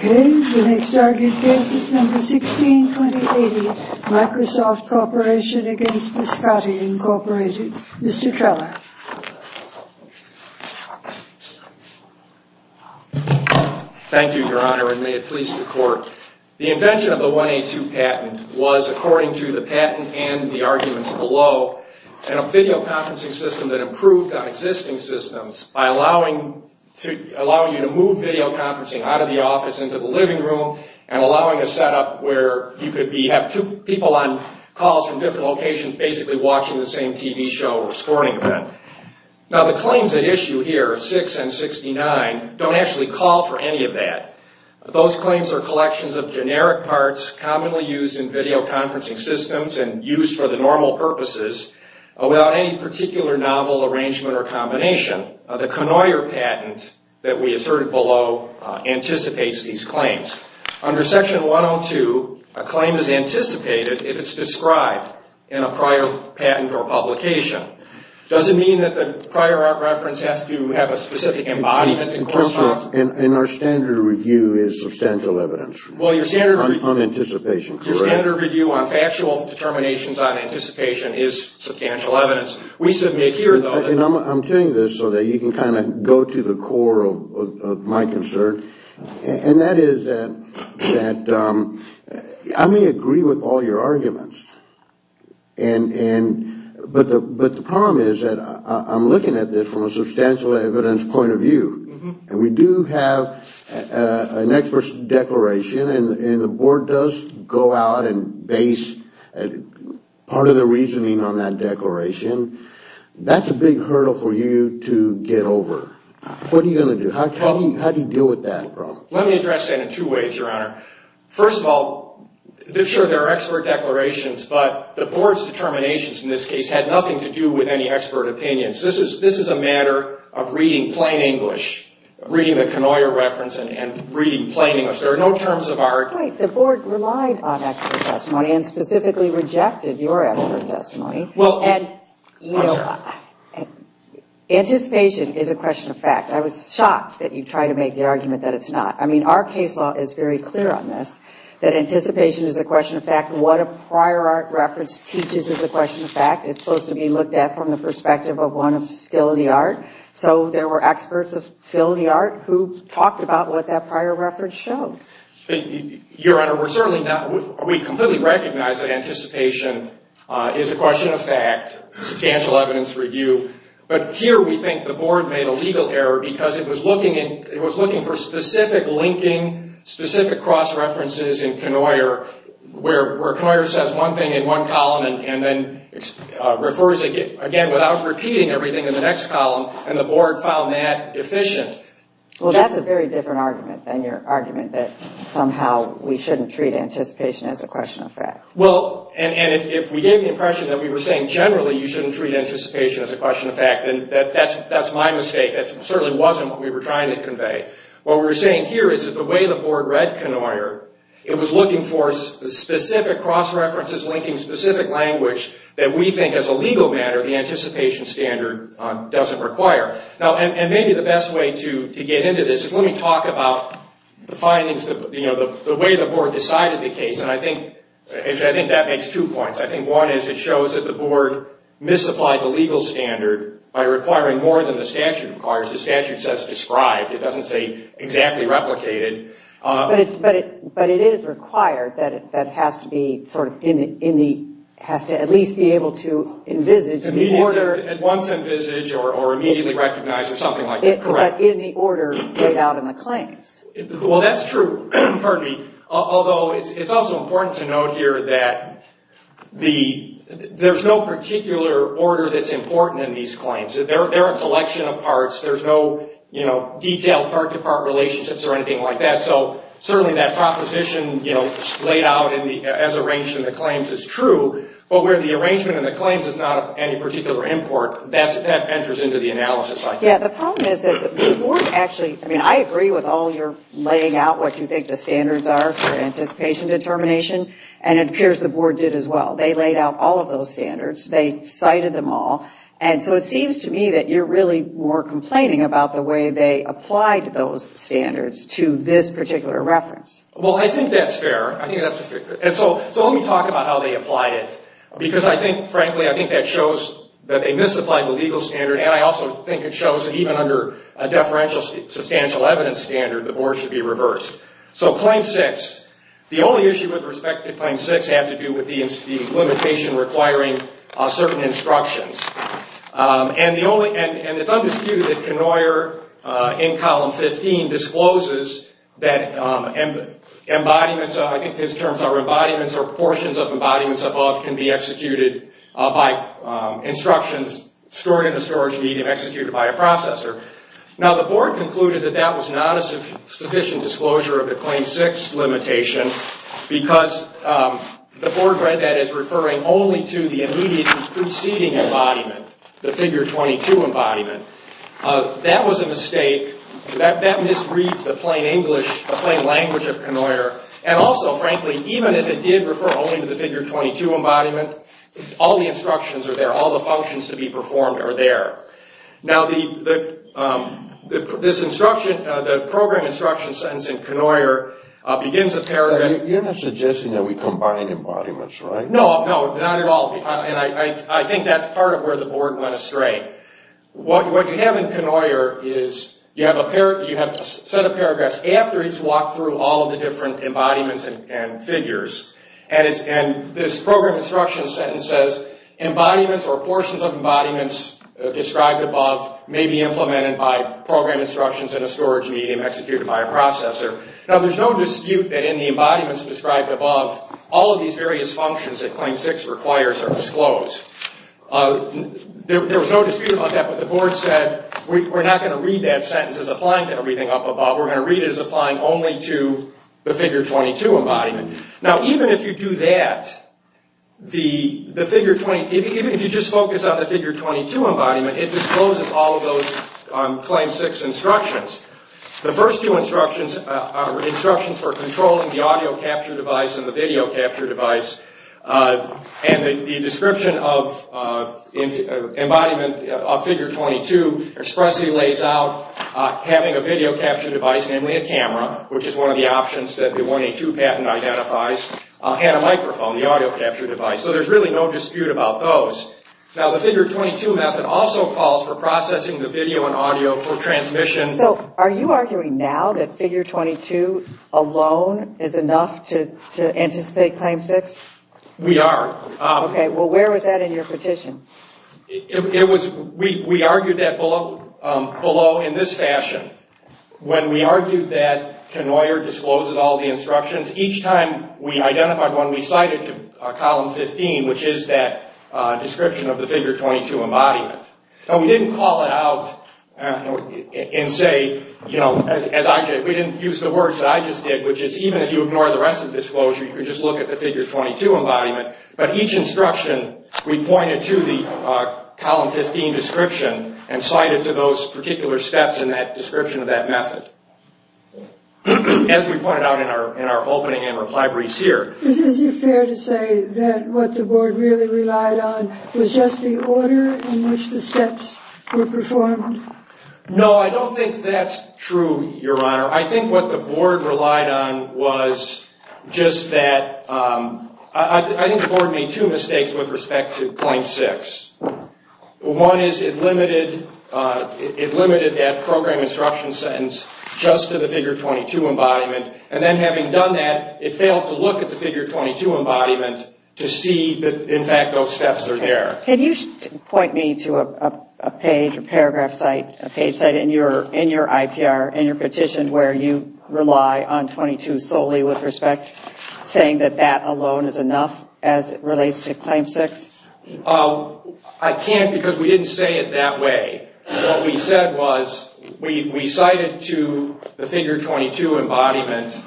Okay, the next target case is number 162080. Microsoft Corporation v. Biscotti, Inc. Mr. Trella. Thank you, Your Honor, and may it please the Court. The invention of the 182 patent was, according to the patent and the arguments below, a video conferencing system that improved on existing systems by allowing you to move video conferencing out of the office into the living room and allowing a setup where you could have two people on calls from different locations basically watching the same TV show or sporting event. Now the claims at issue here, 6 and 69, don't actually call for any of that. Those claims are collections of generic parts commonly used in video conferencing systems and used for the normal purposes without any particular novel arrangement or combination. In addition, the Conoyer patent that we asserted below anticipates these claims. Under Section 102, a claim is anticipated if it's described in a prior patent or publication. Does it mean that the prior reference has to have a specific embodiment? And our standard review is substantial evidence on anticipation, correct? Your standard review on factual determinations on anticipation is substantial evidence. I'm telling you this so that you can kind of go to the core of my concern, and that is that I may agree with all your arguments, but the problem is that I'm looking at this from a substantial evidence point of view. We do have an expert's declaration, and the Board does go out and base part of the reasoning on that declaration. That's a big hurdle for you to get over. What are you going to do? How do you deal with that problem? Let me address that in two ways, Your Honor. First of all, sure, there are expert declarations, but the Board's determinations in this case had nothing to do with any expert opinions. This is a matter of reading plain English, reading the Conoyer reference and reading plain English. There are no terms of art. The Board relied on expert testimony and specifically rejected your expert testimony. Well, I'm sorry. Anticipation is a question of fact. I was shocked that you tried to make the argument that it's not. I mean, our case law is very clear on this, that anticipation is a question of fact. What a prior art reference teaches is a question of fact. It's supposed to be looked at from the perspective of one of skill in the art. So there were experts of skill in the art who talked about what that prior reference showed. Your Honor, we completely recognize that anticipation is a question of fact, substantial evidence review. But here we think the Board made a legal error because it was looking for specific linking, specific cross-references in Conoyer where Conoyer says one thing in one column and then refers again without repeating everything in the next column, and the Board found that deficient. Well, that's a very different argument than your argument that somehow we shouldn't treat anticipation as a question of fact. Well, and if we gave the impression that we were saying generally you shouldn't treat anticipation as a question of fact, then that's my mistake. That certainly wasn't what we were trying to convey. What we're saying here is that the way the Board read Conoyer, it was looking for specific cross-references linking specific language that we think as a legal matter the anticipation standard doesn't require. And maybe the best way to get into this is let me talk about the findings, the way the Board decided the case, and I think that makes two points. I think one is it shows that the Board misapplied the legal standard by requiring more than the statute requires. The statute says described. It doesn't say exactly replicated. But it is required that it has to at least be able to envisage. At once envisage or immediately recognize or something like that. But in the order laid out in the claims. Well, that's true. Pardon me. Although it's also important to note here that there's no particular order that's important in these claims. They're a collection of parts. There's no detailed part-to-part relationships or anything like that. So certainly that proposition laid out as arranged in the claims is true. But where the arrangement in the claims is not of any particular import, that enters into the analysis, I think. Yeah, the problem is that the Board actually, I mean, I agree with all your laying out what you think the standards are for anticipation determination. And it appears the Board did as well. They laid out all of those standards. They cited them all. And so it seems to me that you're really more complaining about the way they applied those standards to this particular reference. Well, I think that's fair. So let me talk about how they applied it. Because I think, frankly, I think that shows that they misapplied the legal standard. And I also think it shows that even under a deferential substantial evidence standard, the Board should be reversed. So Claim 6, the only issue with respect to Claim 6 has to do with the limitation requiring certain instructions. And it's undisputed that Knoyer in Column 15 discloses that embodiments, I think his terms are embodiments or portions of embodiments above can be executed by instructions stored in a storage medium executed by a processor. Now, the Board concluded that that was not a sufficient disclosure of the Claim 6 limitation because the Board read that as referring only to the immediately preceding embodiment, the Figure 22 embodiment. That was a mistake. That misreads the plain English, the plain language of Knoyer. And also, frankly, even if it did refer only to the Figure 22 embodiment, all the instructions are there. All the functions to be performed are there. Now, this instruction, the program instruction sentence in Knoyer begins a paragraph. You're not suggesting that we combine embodiments, right? No, not at all. And I think that's part of where the Board went astray. What you have in Knoyer is you have a set of paragraphs after it's walked through all of the different embodiments and figures. And this program instruction sentence says, Embodiments or portions of embodiments described above may be implemented by program instructions in a storage medium executed by a processor. Now, there's no dispute that in the embodiments described above, all of these various functions that Claim 6 requires are disclosed. There was no dispute about that, but the Board said, we're not going to read that sentence as applying to everything up above. We're going to read it as applying only to the Figure 22 embodiment. Now, even if you do that, even if you just focus on the Figure 22 embodiment, it discloses all of those Claim 6 instructions. The first two instructions are instructions for controlling the audio capture device and the video capture device. And the description of embodiment of Figure 22 expressly lays out having a video capture device, namely a camera, which is one of the options that the 182 patent identifies, and a microphone, the audio capture device. So there's really no dispute about those. Now, the Figure 22 method also calls for processing the video and audio for transmission. So are you arguing now that Figure 22 alone is enough to anticipate Claim 6? We are. Okay. Well, where was that in your petition? We argued that below in this fashion. When we argued that Knoyer discloses all the instructions, each time we identified one we cited to Column 15, which is that description of the Figure 22 embodiment. Now, we didn't call it out and say, you know, as I did. We didn't use the words that I just did, which is even if you ignore the rest of the disclosure, you can just look at the Figure 22 embodiment. But each instruction we pointed to the Column 15 description and cited to those particular steps in that description of that method. As we pointed out in our opening and reply briefs here. Is it fair to say that what the Board really relied on was just the order in which the steps were performed? No, I don't think that's true, Your Honor. I think what the Board relied on was just that. I think the Board made two mistakes with respect to Claim 6. One is it limited that program instruction sentence just to the Figure 22 embodiment. And then having done that, it failed to look at the Figure 22 embodiment to see that, in fact, those steps are there. Can you point me to a page, a paragraph site, a page site in your IPR, in your petition, where you rely on 22 solely with respect, saying that that alone is enough as it relates to Claim 6? I can't because we didn't say it that way. What we said was we cited to the Figure 22 embodiment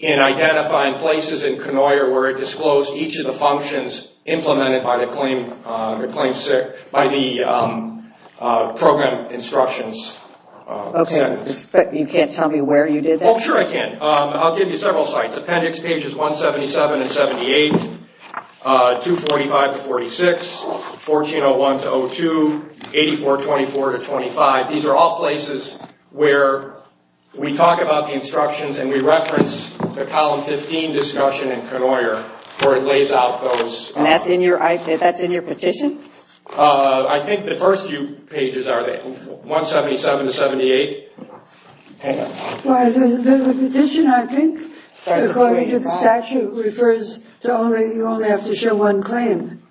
in identifying places in Knoyer where it disclosed each of the functions implemented by the Program Instructions. Okay, but you can't tell me where you did that? Oh, sure I can. I'll give you several sites. Appendix pages 177 and 78, 245 to 46, 1401 to 02, 8424 to 25. These are all places where we talk about the instructions and we reference the Column 15 discussion in Knoyer where it lays out those. And that's in your IPR? That's in your petition? I think the first few pages are there. 177 to 78. The petition, I think, according to the statute, refers to you only have to show one claim.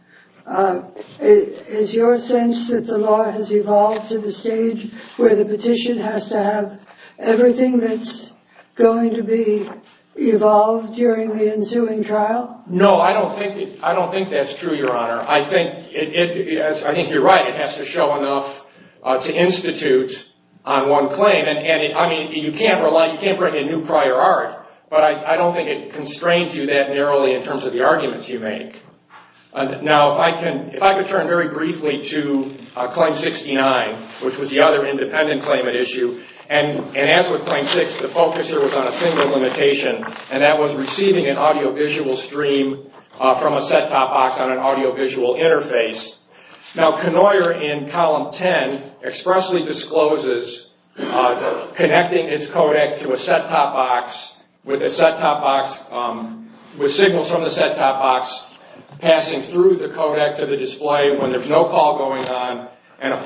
Is your sense that the law has evolved to the stage where the petition has to have everything that's going to be evolved during the ensuing trial? No, I don't think that's true, Your Honor. I think you're right. It has to show enough to institute on one claim. I mean, you can't bring in new prior art, but I don't think it constrains you that narrowly in terms of the arguments you make. Now, if I could turn very briefly to Claim 69, which was the other independent claim at issue. And as with Claim 6, the focus here was on a single limitation, and that was receiving an audiovisual stream from a set-top box on an audiovisual interface. Now, Knoyer, in Column 10, expressly discloses connecting its codec to a set-top box with signals from the set-top box, passing through the codec to the display when there's no call going on, and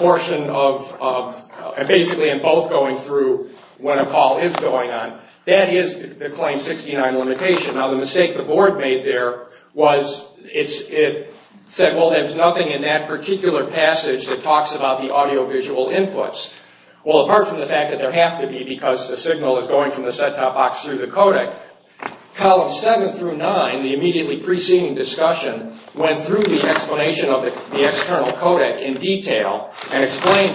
basically in both going through when a call is going on. That is the Claim 69 limitation. Now, the mistake the Board made there was it said, well, there's nothing in that particular passage that talks about the audiovisual inputs. Well, apart from the fact that there have to be because the signal is going from the set-top box through the codec, Columns 7 through 9, the immediately preceding discussion, went through the explanation of the external codec in detail and explained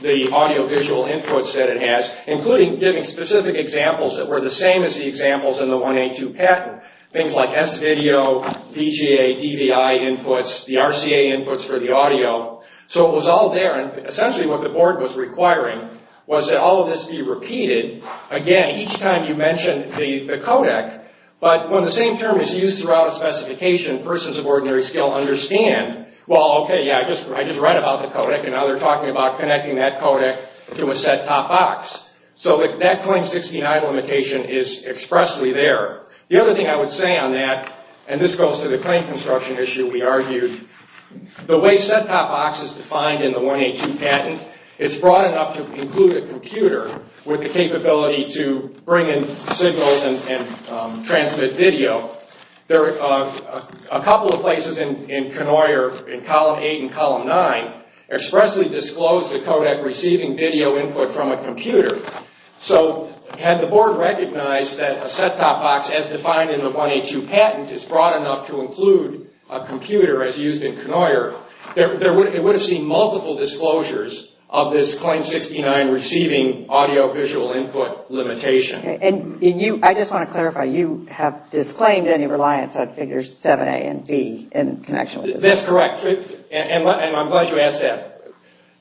the audiovisual inputs that it has, including giving specific examples that were the same as the examples in the 1A2 pattern, things like S-video, VGA, DVI inputs, the RCA inputs for the audio. So it was all there, and essentially what the Board was requiring was that all of this be repeated. Again, each time you mention the codec, but when the same term is used throughout a specification, persons of ordinary skill understand, well, okay, yeah, I just read about the codec, and now they're talking about connecting that codec to a set-top box. So that Claim 69 limitation is expressly there. The other thing I would say on that, and this goes to the claim construction issue we argued, the way set-top box is defined in the 1A2 patent, it's broad enough to include a computer with the capability to bring in signals and transmit video. A couple of places in Knoyer, in Column 8 and Column 9, expressly disclosed the codec receiving video input from a computer. So had the Board recognized that a set-top box, as defined in the 1A2 patent, is broad enough to include a computer as used in Knoyer, it would have seen multiple disclosures of this Claim 69 receiving audiovisual input limitation. Okay, and I just want to clarify. You have disclaimed any reliance on Figures 7A and B in connection with this. That's correct, and I'm glad you asked that.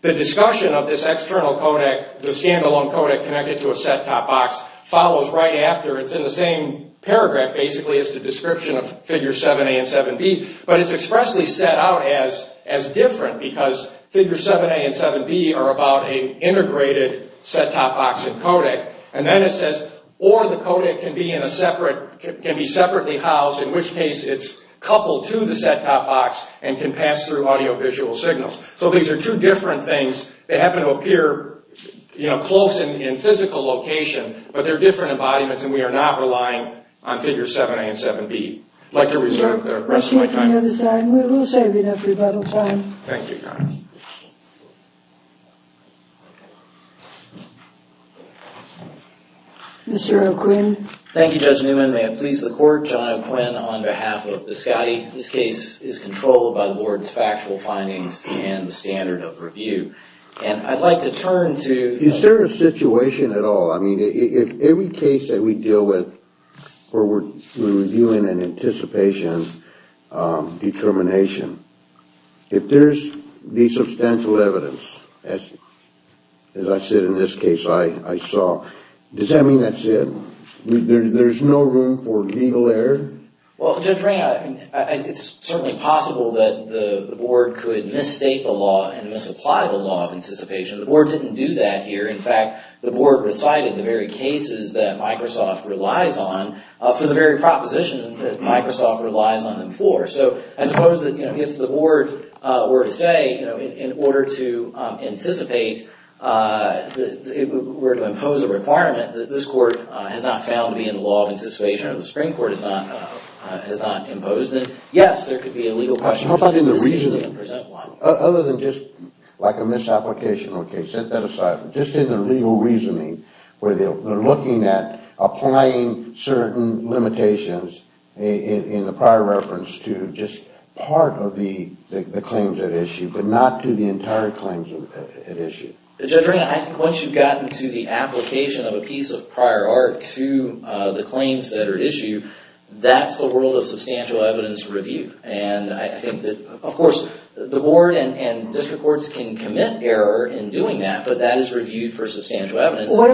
The discussion of this external codec, the stand-alone codec connected to a set-top box, follows right after. It's in the same paragraph, basically, as the description of Figures 7A and 7B, but it's expressly set out as different because Figures 7A and 7B are about an integrated set-top box and codec. And then it says, or the codec can be separately housed, in which case it's coupled to the set-top box and can pass through audiovisual signals. So these are two different things. They happen to appear close in physical location, but they're different embodiments and we are not relying on Figures 7A and 7B. I'd like to reserve the rest of my time. Thank you, Connie. Mr. O'Quinn. Thank you, Judge Newman. May it please the Court, John O'Quinn on behalf of the Scotty. This case is controlled by the Board's factual findings and the standard of review. And I'd like to turn to... Is there a situation at all? I mean, if every case that we deal with where we're reviewing in anticipation determination, if there's the substantial evidence, as I said in this case I saw, does that mean that's it? There's no room for legal error? Well, Judge Ray, it's certainly possible that the Board could misstate the law and misapply the law of anticipation. The Board didn't do that here. In fact, the Board recited the very cases that Microsoft relies on for the very proposition that Microsoft relies on them for. So I suppose that if the Board were to say in order to anticipate, were to impose a requirement that this Court has not found to be in the law of anticipation or the Supreme Court has not imposed it, yes, there could be a legal question. How about in the reasoning? Other than just like a misapplication, okay, set that aside. Just in the legal reasoning where they're looking at applying certain limitations in the prior reference to just part of the claims at issue but not to the entire claims at issue. Judge Ray, I think once you've gotten to the application of a piece of prior art to the claims that are at issue, that's the world of substantial evidence review. And I think that, of course, the Board and district courts can commit error in doing that, but that is reviewed for substantial evidence. What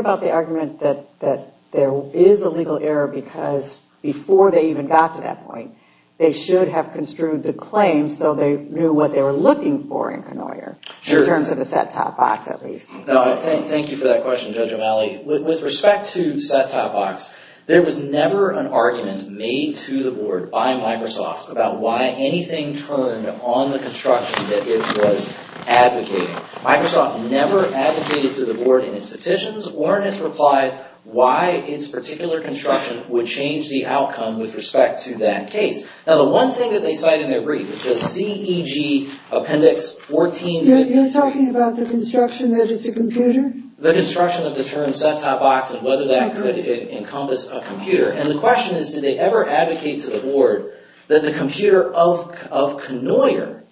about the argument that there is a legal error because before they even got to that point, they should have construed the claims so they knew what they were looking for in Knoyer in terms of the set-top box at least? Thank you for that question, Judge O'Malley. With respect to set-top box, there was never an argument made to the Board by Microsoft about why anything turned on the construction that it was advocating. Microsoft never advocated to the Board in its petitions or in its replies why its particular construction would change the outcome with respect to that case. Now, the one thing that they cite in their brief, it says CEG Appendix 1450. You're talking about the construction that it's a computer? The construction of the term set-top box and whether that could encompass a computer. And the question is, did they ever advocate to the Board that the computer of Knoyer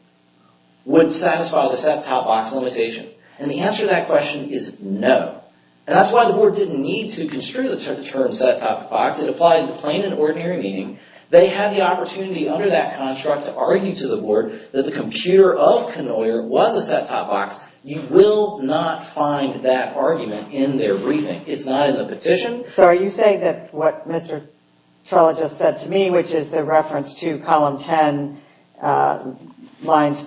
would satisfy the set-top box limitation? And the answer to that question is no. And that's why the Board didn't need to construe the term set-top box. It applied in the plain and ordinary meaning. They had the opportunity under that construct to argue to the Board that the computer of Knoyer was a set-top box. You will not find that argument in their briefing. It's not in the petition. So are you saying that what Mr. Trella just said to me, which is the reference to column 10, lines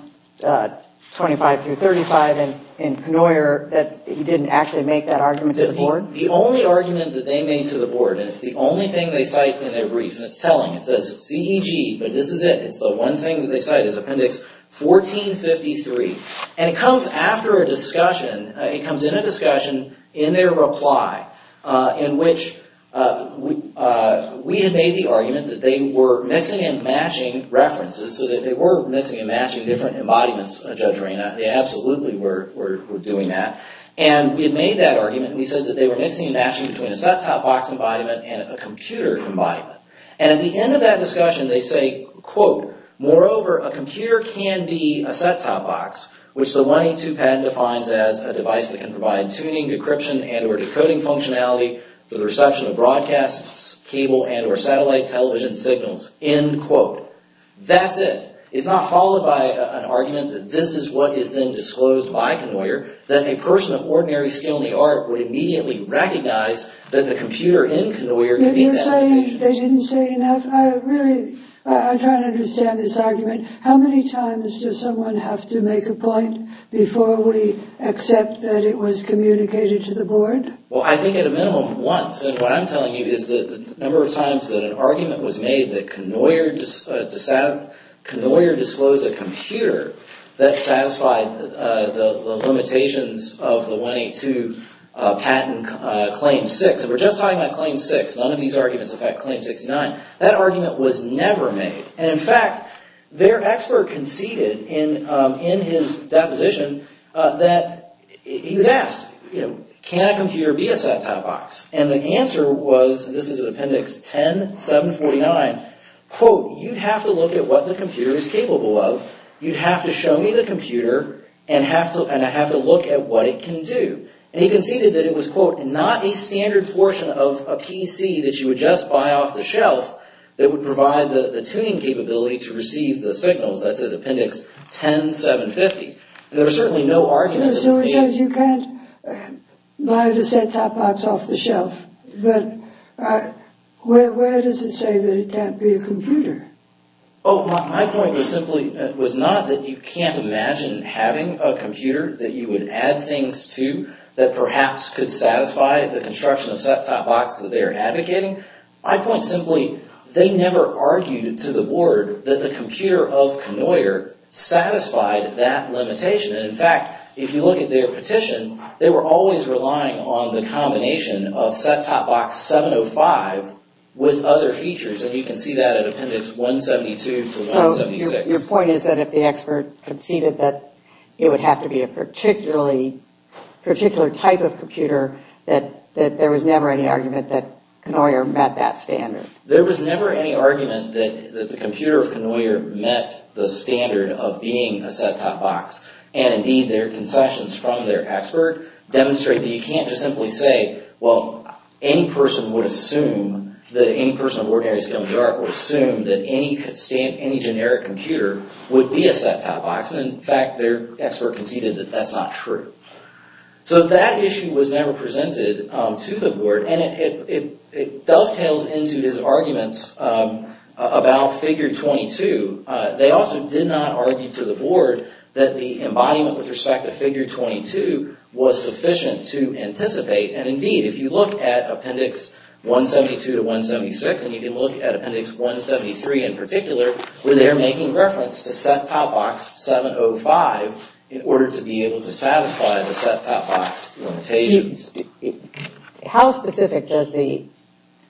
25 through 35 in Knoyer, that he didn't actually make that argument to the Board? The only argument that they made to the Board, and it's the only thing they cite in their brief, and it's telling. It says CEG, but this is it. It's the one thing that they cite is Appendix 1453. And it comes after a discussion. It comes in a discussion in their reply in which we had made the argument that they were mixing and matching references, so that they were mixing and matching different embodiments, Judge Rayna. They absolutely were doing that. And we had made that argument. We said that they were mixing and matching between a set-top box embodiment and a computer embodiment. And at the end of that discussion, they say, quote, Moreover, a computer can be a set-top box, which the 182 patent defines as a device that can provide tuning, decryption, and or decoding functionality for the reception of broadcasts, cable, and or satellite television signals. End quote. That's it. It's not followed by an argument that this is what is then disclosed by Knoyer, that a person of ordinary skill in the art would immediately recognize that the computer in Knoyer could be that computation. You're saying they didn't say enough? I'm trying to understand this argument. How many times does someone have to make a point before we accept that it was communicated to the board? Well, I think at a minimum, once. And what I'm telling you is the number of times that an argument was made that Knoyer disclosed a computer that satisfied the limitations of the 182 patent Claim 6. And we're just talking about Claim 6. None of these arguments affect Claim 69. That argument was never made. And in fact, their expert conceded in his deposition that he was asked, you know, can a computer be a set-top box? And the answer was, this is in Appendix 10, 749, quote, you have to look at what the computer is capable of. You have to show me the computer, and I have to look at what it can do. And he conceded that it was, quote, not a standard portion of a PC that you would just buy off the shelf that would provide the tuning capability to receive the signals. That's at Appendix 10, 750. There are certainly no arguments. So it says you can't buy the set-top box off the shelf. But where does it say that it can't be a computer? Oh, my point was simply, it was not that you can't imagine having a computer that you would add things to that perhaps could satisfy the construction of set-top box that they are advocating. My point simply, they never argued to the board that the computer of Knoyer satisfied that limitation. And in fact, if you look at their petition, they were always relying on the combination of set-top box 705 with other features, and you can see that at Appendix 172 to 176. So your point is that if the expert conceded that it would have to be a particular type of computer, that there was never any argument that Knoyer met that standard. There was never any argument that the computer of Knoyer met the standard of being a set-top box. And indeed, their concessions from their expert demonstrate that you can't just simply say, well, any person would assume that any person of ordinary skill in the art would assume that any generic computer would be a set-top box. And in fact, their expert conceded that that's not true. So that issue was never presented to the board, and it dovetails into his arguments about Figure 22. They also did not argue to the board that the embodiment with respect to Figure 22 was sufficient to anticipate. And indeed, if you look at Appendix 172 to 176, and you can look at Appendix 173 in particular, where they're making reference to set-top box 705 in order to be able to satisfy the set-top box limitations. How specific does the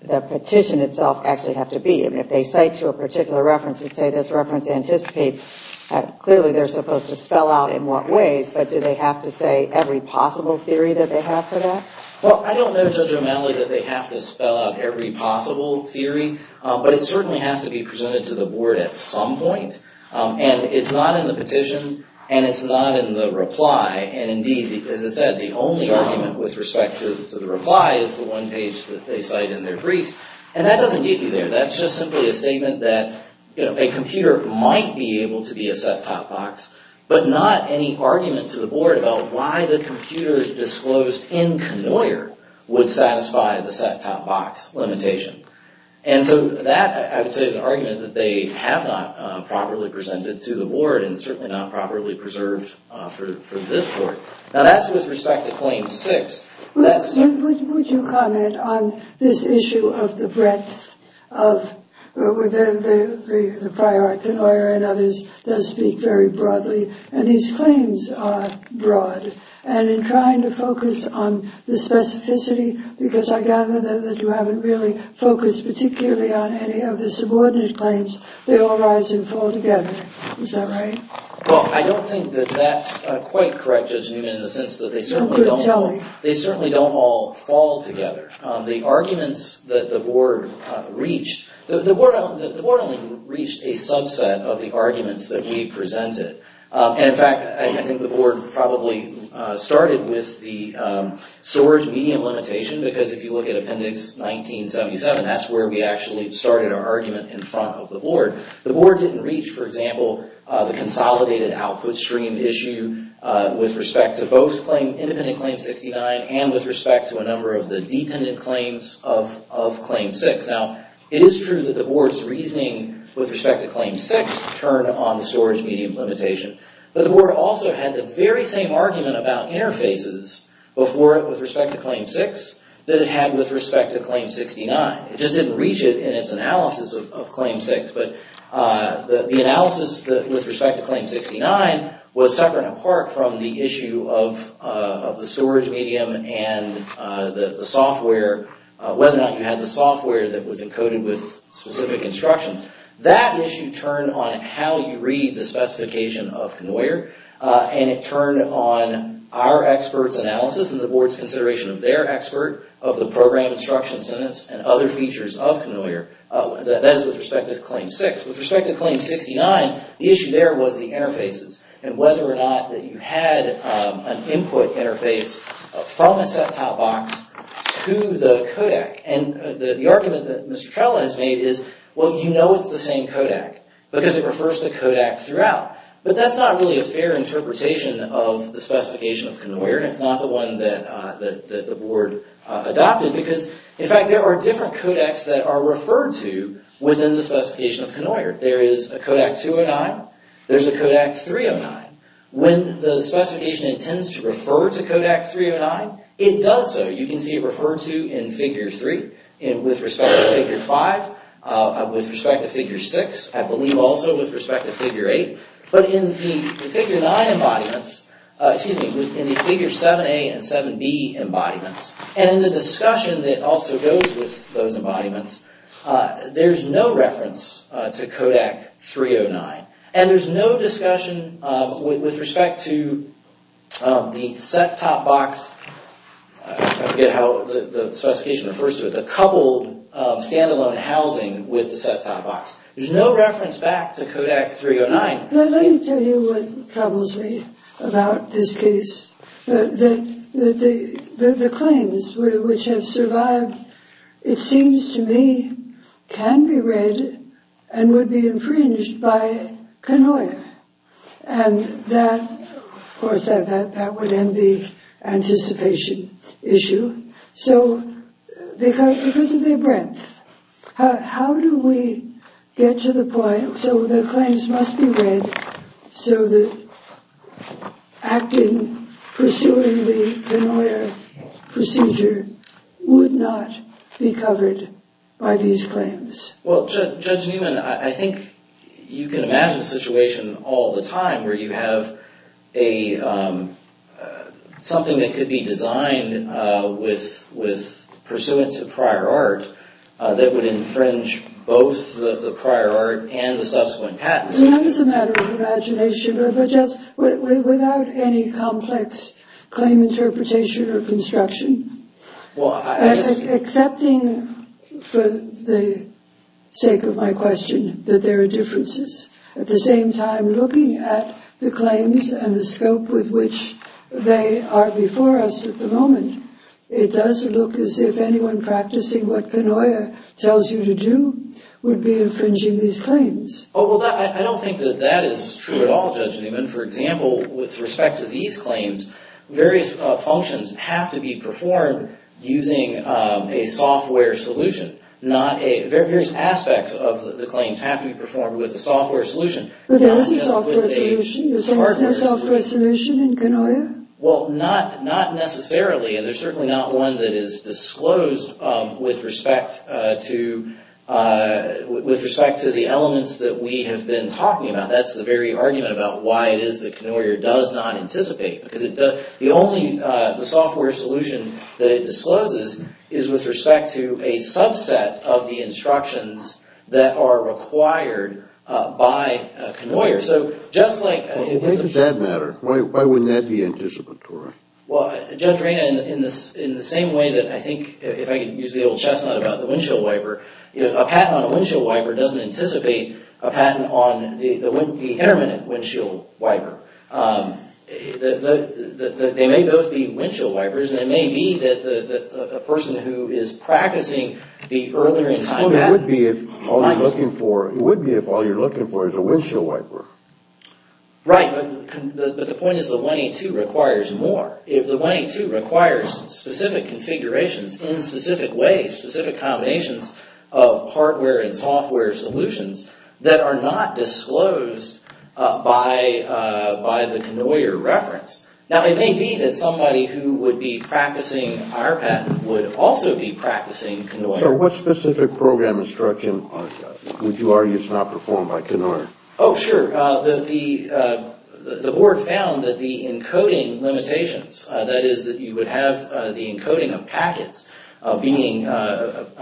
petition itself actually have to be? I mean, if they cite to a particular reference and say this reference anticipates that clearly they're supposed to spell out in what ways, but do they have to say every possible theory that they have for that? Well, I don't know, Judge O'Malley, that they have to spell out every possible theory, but it certainly has to be presented to the board at some point. And it's not in the petition, and it's not in the reply. And indeed, as I said, the only argument with respect to the reply is the one page that they cite in their briefs. And that doesn't get you there. That's just simply a statement that a computer might be able to be a set-top box, but not any argument to the board about why the computer disclosed in Knoyer would satisfy the set-top box limitation. And so that, I would say, is an argument that they have not properly presented to the board and certainly not properly preserved for this court. Now, that's with respect to Claim 6. Would you comment on this issue of the breadth of the prior Knoyer and others does speak very broadly. And these claims are broad. And in trying to focus on the specificity, because I gather that you haven't really focused particularly on any of the subordinate claims, they all rise and fall together. Is that right? Well, I don't think that that's quite correct, Judge Newman, in the sense that they certainly don't all fall together. The arguments that the board reached, the board only reached a subset of the arguments that we presented. And in fact, I think the board probably started with the storage medium limitation, because if you look at Appendix 1977, that's where we actually started our argument in front of the board. The board didn't reach, for example, the consolidated output stream issue with respect to both independent Claim 69 and with respect to a number of the dependent claims of Claim 6. Now, it is true that the board's reasoning with respect to Claim 6 turned on the storage medium limitation. But the board also had the very same argument about interfaces before it with respect to Claim 6 that it had with respect to Claim 69. It just didn't reach it in its analysis of Claim 6. But the analysis with respect to Claim 69 was separate and apart from the issue of the storage medium and the software, whether or not you had the software that was encoded with specific instructions. That issue turned on how you read the specification of Conoyer. And it turned on our experts' analysis and the board's consideration of their expert, of the program instruction sentence, and other features of Conoyer. That is with respect to Claim 6. With respect to Claim 69, the issue there was the interfaces and whether or not that you had an input interface from a set-top box to the codec. And the argument that Mr. Trella has made is, well, you know it's the same codec because it refers to codec throughout. But that's not really a fair interpretation of the specification of Conoyer. And it's not the one that the board adopted. Because, in fact, there are different codecs that are referred to within the specification of Conoyer. There is a Codec 209. There's a Codec 309. When the specification intends to refer to Codec 309, it does so. You can see it referred to in Figure 3. With respect to Figure 5, with respect to Figure 6, I believe also with respect to Figure 8. But in the Figure 9 embodiments, excuse me, in the Figure 7a and 7b embodiments, and in the discussion that also goes with those embodiments, there's no reference to Codec 309. And there's no discussion with respect to the set-top box. I forget how the specification refers to it. The coupled standalone housing with the set-top box. There's no reference back to Codec 309. But let me tell you what troubles me about this case. The claims which have survived, it seems to me, can be read and would be infringed by Conoyer. And that, of course, that would end the anticipation issue. So because of their breadth, how do we get to the point so the claims must be read so that acting, pursuing the Conoyer procedure would not be covered by these claims? Well, Judge Newman, I think you can imagine a situation all the time where you have something that could be designed with pursuance of prior art that would infringe both the prior art and the subsequent patents. That is a matter of imagination, but just without any complex claim interpretation or construction. Accepting, for the sake of my question, that there are differences. At the same time, looking at the claims and the scope with which they are before us at the moment, it does look as if anyone practicing what Conoyer tells you to do would be infringing these claims. Oh, well, I don't think that that is true at all, Judge Newman. For example, with respect to these claims, various functions have to be performed using a software solution. Various aspects of the claims have to be performed with a software solution. But there is a software solution. You're saying there's no software solution in Conoyer? Well, not necessarily, and there's certainly not one that is disclosed with respect to the elements that we have been talking about. That's the very argument about why it is that Conoyer does not anticipate. The only software solution that it discloses is with respect to a subset of the instructions that are required by Conoyer. So just like— Well, why does that matter? Why wouldn't that be anticipatory? Well, Judge Reina, in the same way that I think, if I could use the old chestnut about the windshield wiper, a patent on a windshield wiper doesn't anticipate a patent on the intermittent windshield wiper. They may both be windshield wipers, and it may be that the person who is practicing the earlier in time— Well, it would be if all you're looking for is a windshield wiper. Right, but the point is the 182 requires more. The 182 requires specific configurations in specific ways, specific combinations of hardware and software solutions that are not disclosed by the Conoyer reference. Now, it may be that somebody who would be practicing our patent would also be practicing Conoyer. So what specific program instruction would you argue is not performed by Conoyer? Oh, sure. The board found that the encoding limitations, that is that you would have the encoding of packets being done,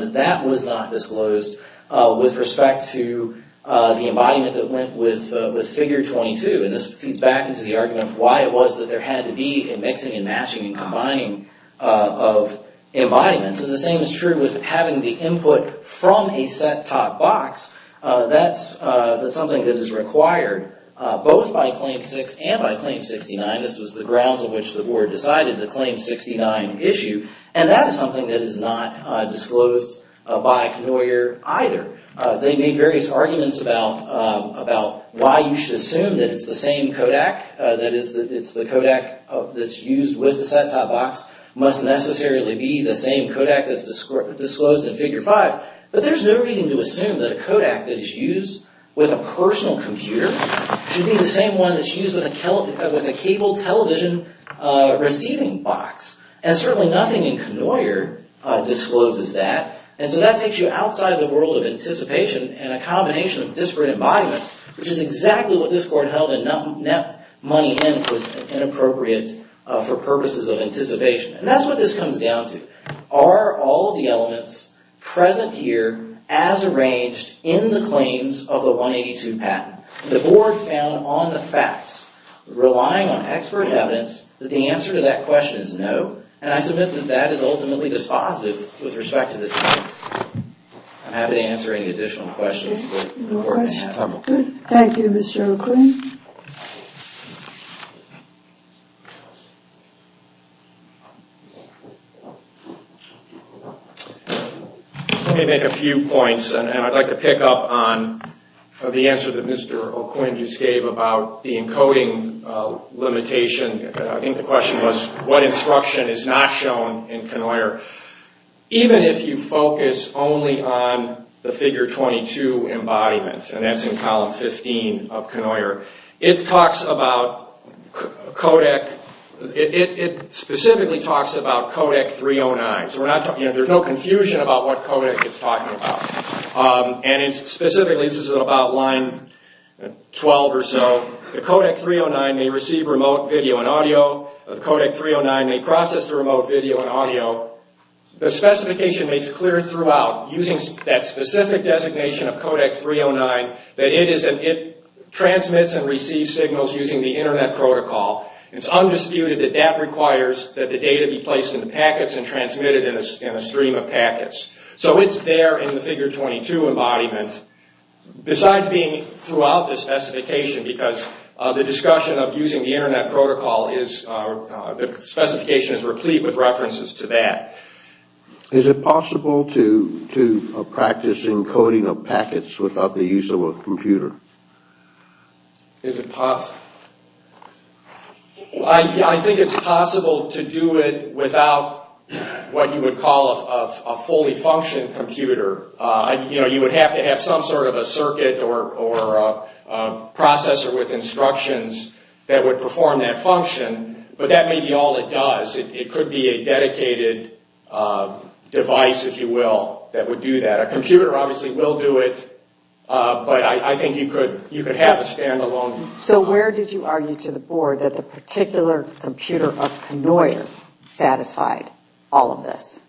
that that was not disclosed with respect to the embodiment that went with figure 22. And this feeds back into the argument of why it was that there had to be a mixing and matching and combining of embodiments. And the same is true with having the input from a set-top box. That's something that is required both by Claim 6 and by Claim 69. This was the grounds on which the board decided the Claim 69 issue. And that is something that is not disclosed by Conoyer either. They made various arguments about why you should assume that it's the same Kodak, that it's the Kodak that's used with the set-top box must necessarily be the same Kodak that's disclosed in figure 5. But there's no reason to assume that a Kodak that is used with a personal computer should be the same one that's used with a cable television receiving box. And certainly nothing in Conoyer discloses that. And so that takes you outside the world of anticipation and a combination of disparate embodiments, which is exactly what this board held in net money in was inappropriate for purposes of anticipation. And that's what this comes down to. Are all of the elements present here as arranged in the claims of the 182 patent? The board found on the facts, relying on expert evidence, that the answer to that question is no. And I submit that that is ultimately dispositive with respect to this case. I'm happy to answer any additional questions. No questions. Good. Thank you, Mr. O'Quinn. Let me make a few points, and I'd like to pick up on the answer that Mr. O'Quinn just gave about the encoding limitation. I think the question was what instruction is not shown in Conoyer. Even if you focus only on the figure 22 embodiment, and that's in column 15 of Conoyer, it specifically talks about codec 309. So there's no confusion about what codec it's talking about. And specifically this is about line 12 or so. The codec 309 may receive remote video and audio. The codec 309 may process the remote video and audio. The specification makes it clear throughout, using that specific designation of codec 309, that it transmits and receives signals using the Internet protocol. It's undisputed that that requires that the data be placed into packets and transmitted in a stream of packets. So it's there in the figure 22 embodiment. Besides being throughout the specification, because the discussion of using the Internet protocol is, the specification is replete with references to that. Is it possible to practice encoding of packets without the use of a computer? Is it possible? I think it's possible to do it without what you would call a fully functioned computer. You would have to have some sort of a circuit or a processor with instructions that would perform that function. But that may be all it does. It could be a dedicated device, if you will, that would do that. A computer obviously will do it. But I think you could have a stand-alone. So where did you argue to the board that the particular computer of Knoyer satisfied all of this?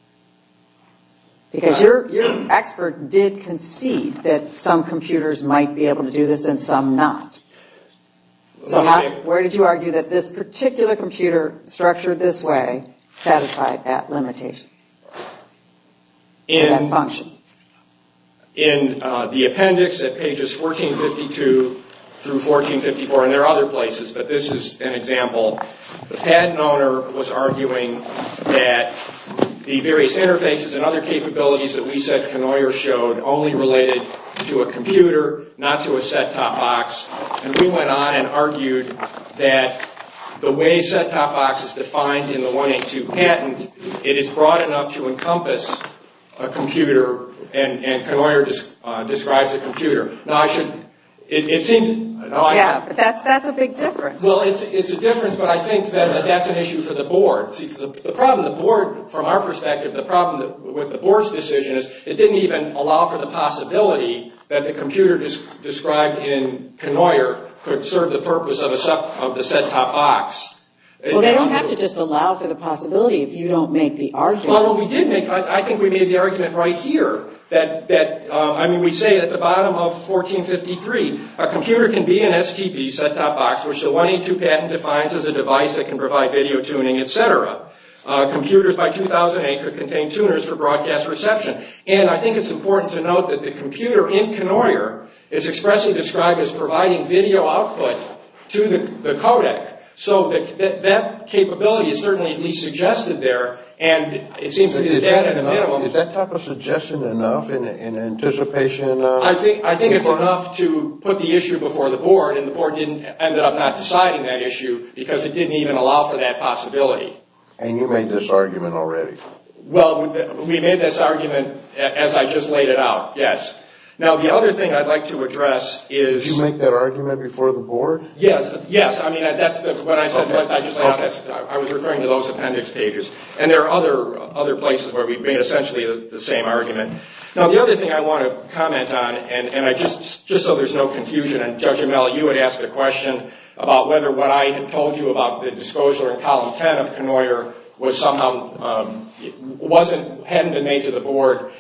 Because your expert did concede that some computers might be able to do this and some not. So where did you argue that this particular computer structured this way satisfied that limitation, that function? In the appendix at pages 1452 through 1454, and there are other places, but this is an example. The patent owner was arguing that the various interfaces and other capabilities that we said Knoyer showed only related to a computer, not to a set-top box. And we went on and argued that the way set-top box is defined in the 182 patent, it is broad enough to encompass a computer, and Knoyer describes a computer. Yeah, but that's a big difference. Well, it's a difference, but I think that that's an issue for the board. The problem with the board's decision is it didn't even allow for the possibility that the computer described in Knoyer could serve the purpose of the set-top box. Well, they don't have to just allow for the possibility if you don't make the argument. I think we made the argument right here. I mean, we say at the bottom of 1453, a computer can be an STP set-top box, which the 182 patent defines as a device that can provide video tuning, et cetera. Computers by 2008 could contain tuners for broadcast reception. And I think it's important to note that the computer in Knoyer is expressly described as providing video output to the codec. So that capability is certainly at least suggested there, and it seems to be the data in the middle. Is that type of suggestion enough in anticipation? I think it's enough to put the issue before the board, and the board ended up not deciding that issue because it didn't even allow for that possibility. And you made this argument already. Well, we made this argument as I just laid it out, yes. Now, the other thing I'd like to address is... Did you make that argument before the board? Yes, yes. I mean, when I said that, I was referring to those appendix pages. And there are other places where we've made essentially the same argument. Now, the other thing I want to comment on, and just so there's no confusion, and Judge Amell, you had asked a question about whether what I had told you about the disclosure in column 10 of Knoyer was somehow... hadn't been made to the board.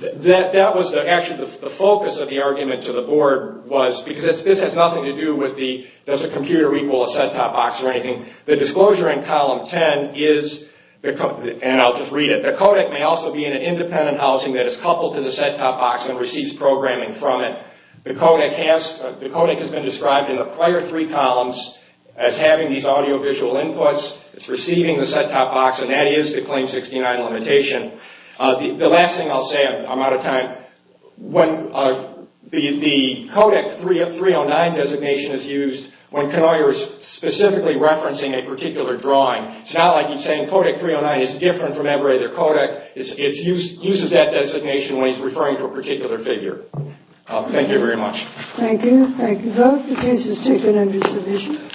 That was actually the focus of the argument to the board was... because this has nothing to do with does a computer equal a set-top box or anything. The disclosure in column 10 is... and I'll just read it. The codec may also be in an independent housing that is coupled to the set-top box and receives programming from it. The codec has been described in the prior three columns as having these audio-visual inputs. It's receiving the set-top box, and that is the Claim 69 limitation. The last thing I'll say, I'm out of time. The codec 309 designation is used when Knoyer is specifically referencing a particular drawing. It's not like he's saying codec 309 is different from every other codec. It uses that designation when he's referring to a particular figure. Thank you very much. Thank you. Thank you both. The case is taken under submission.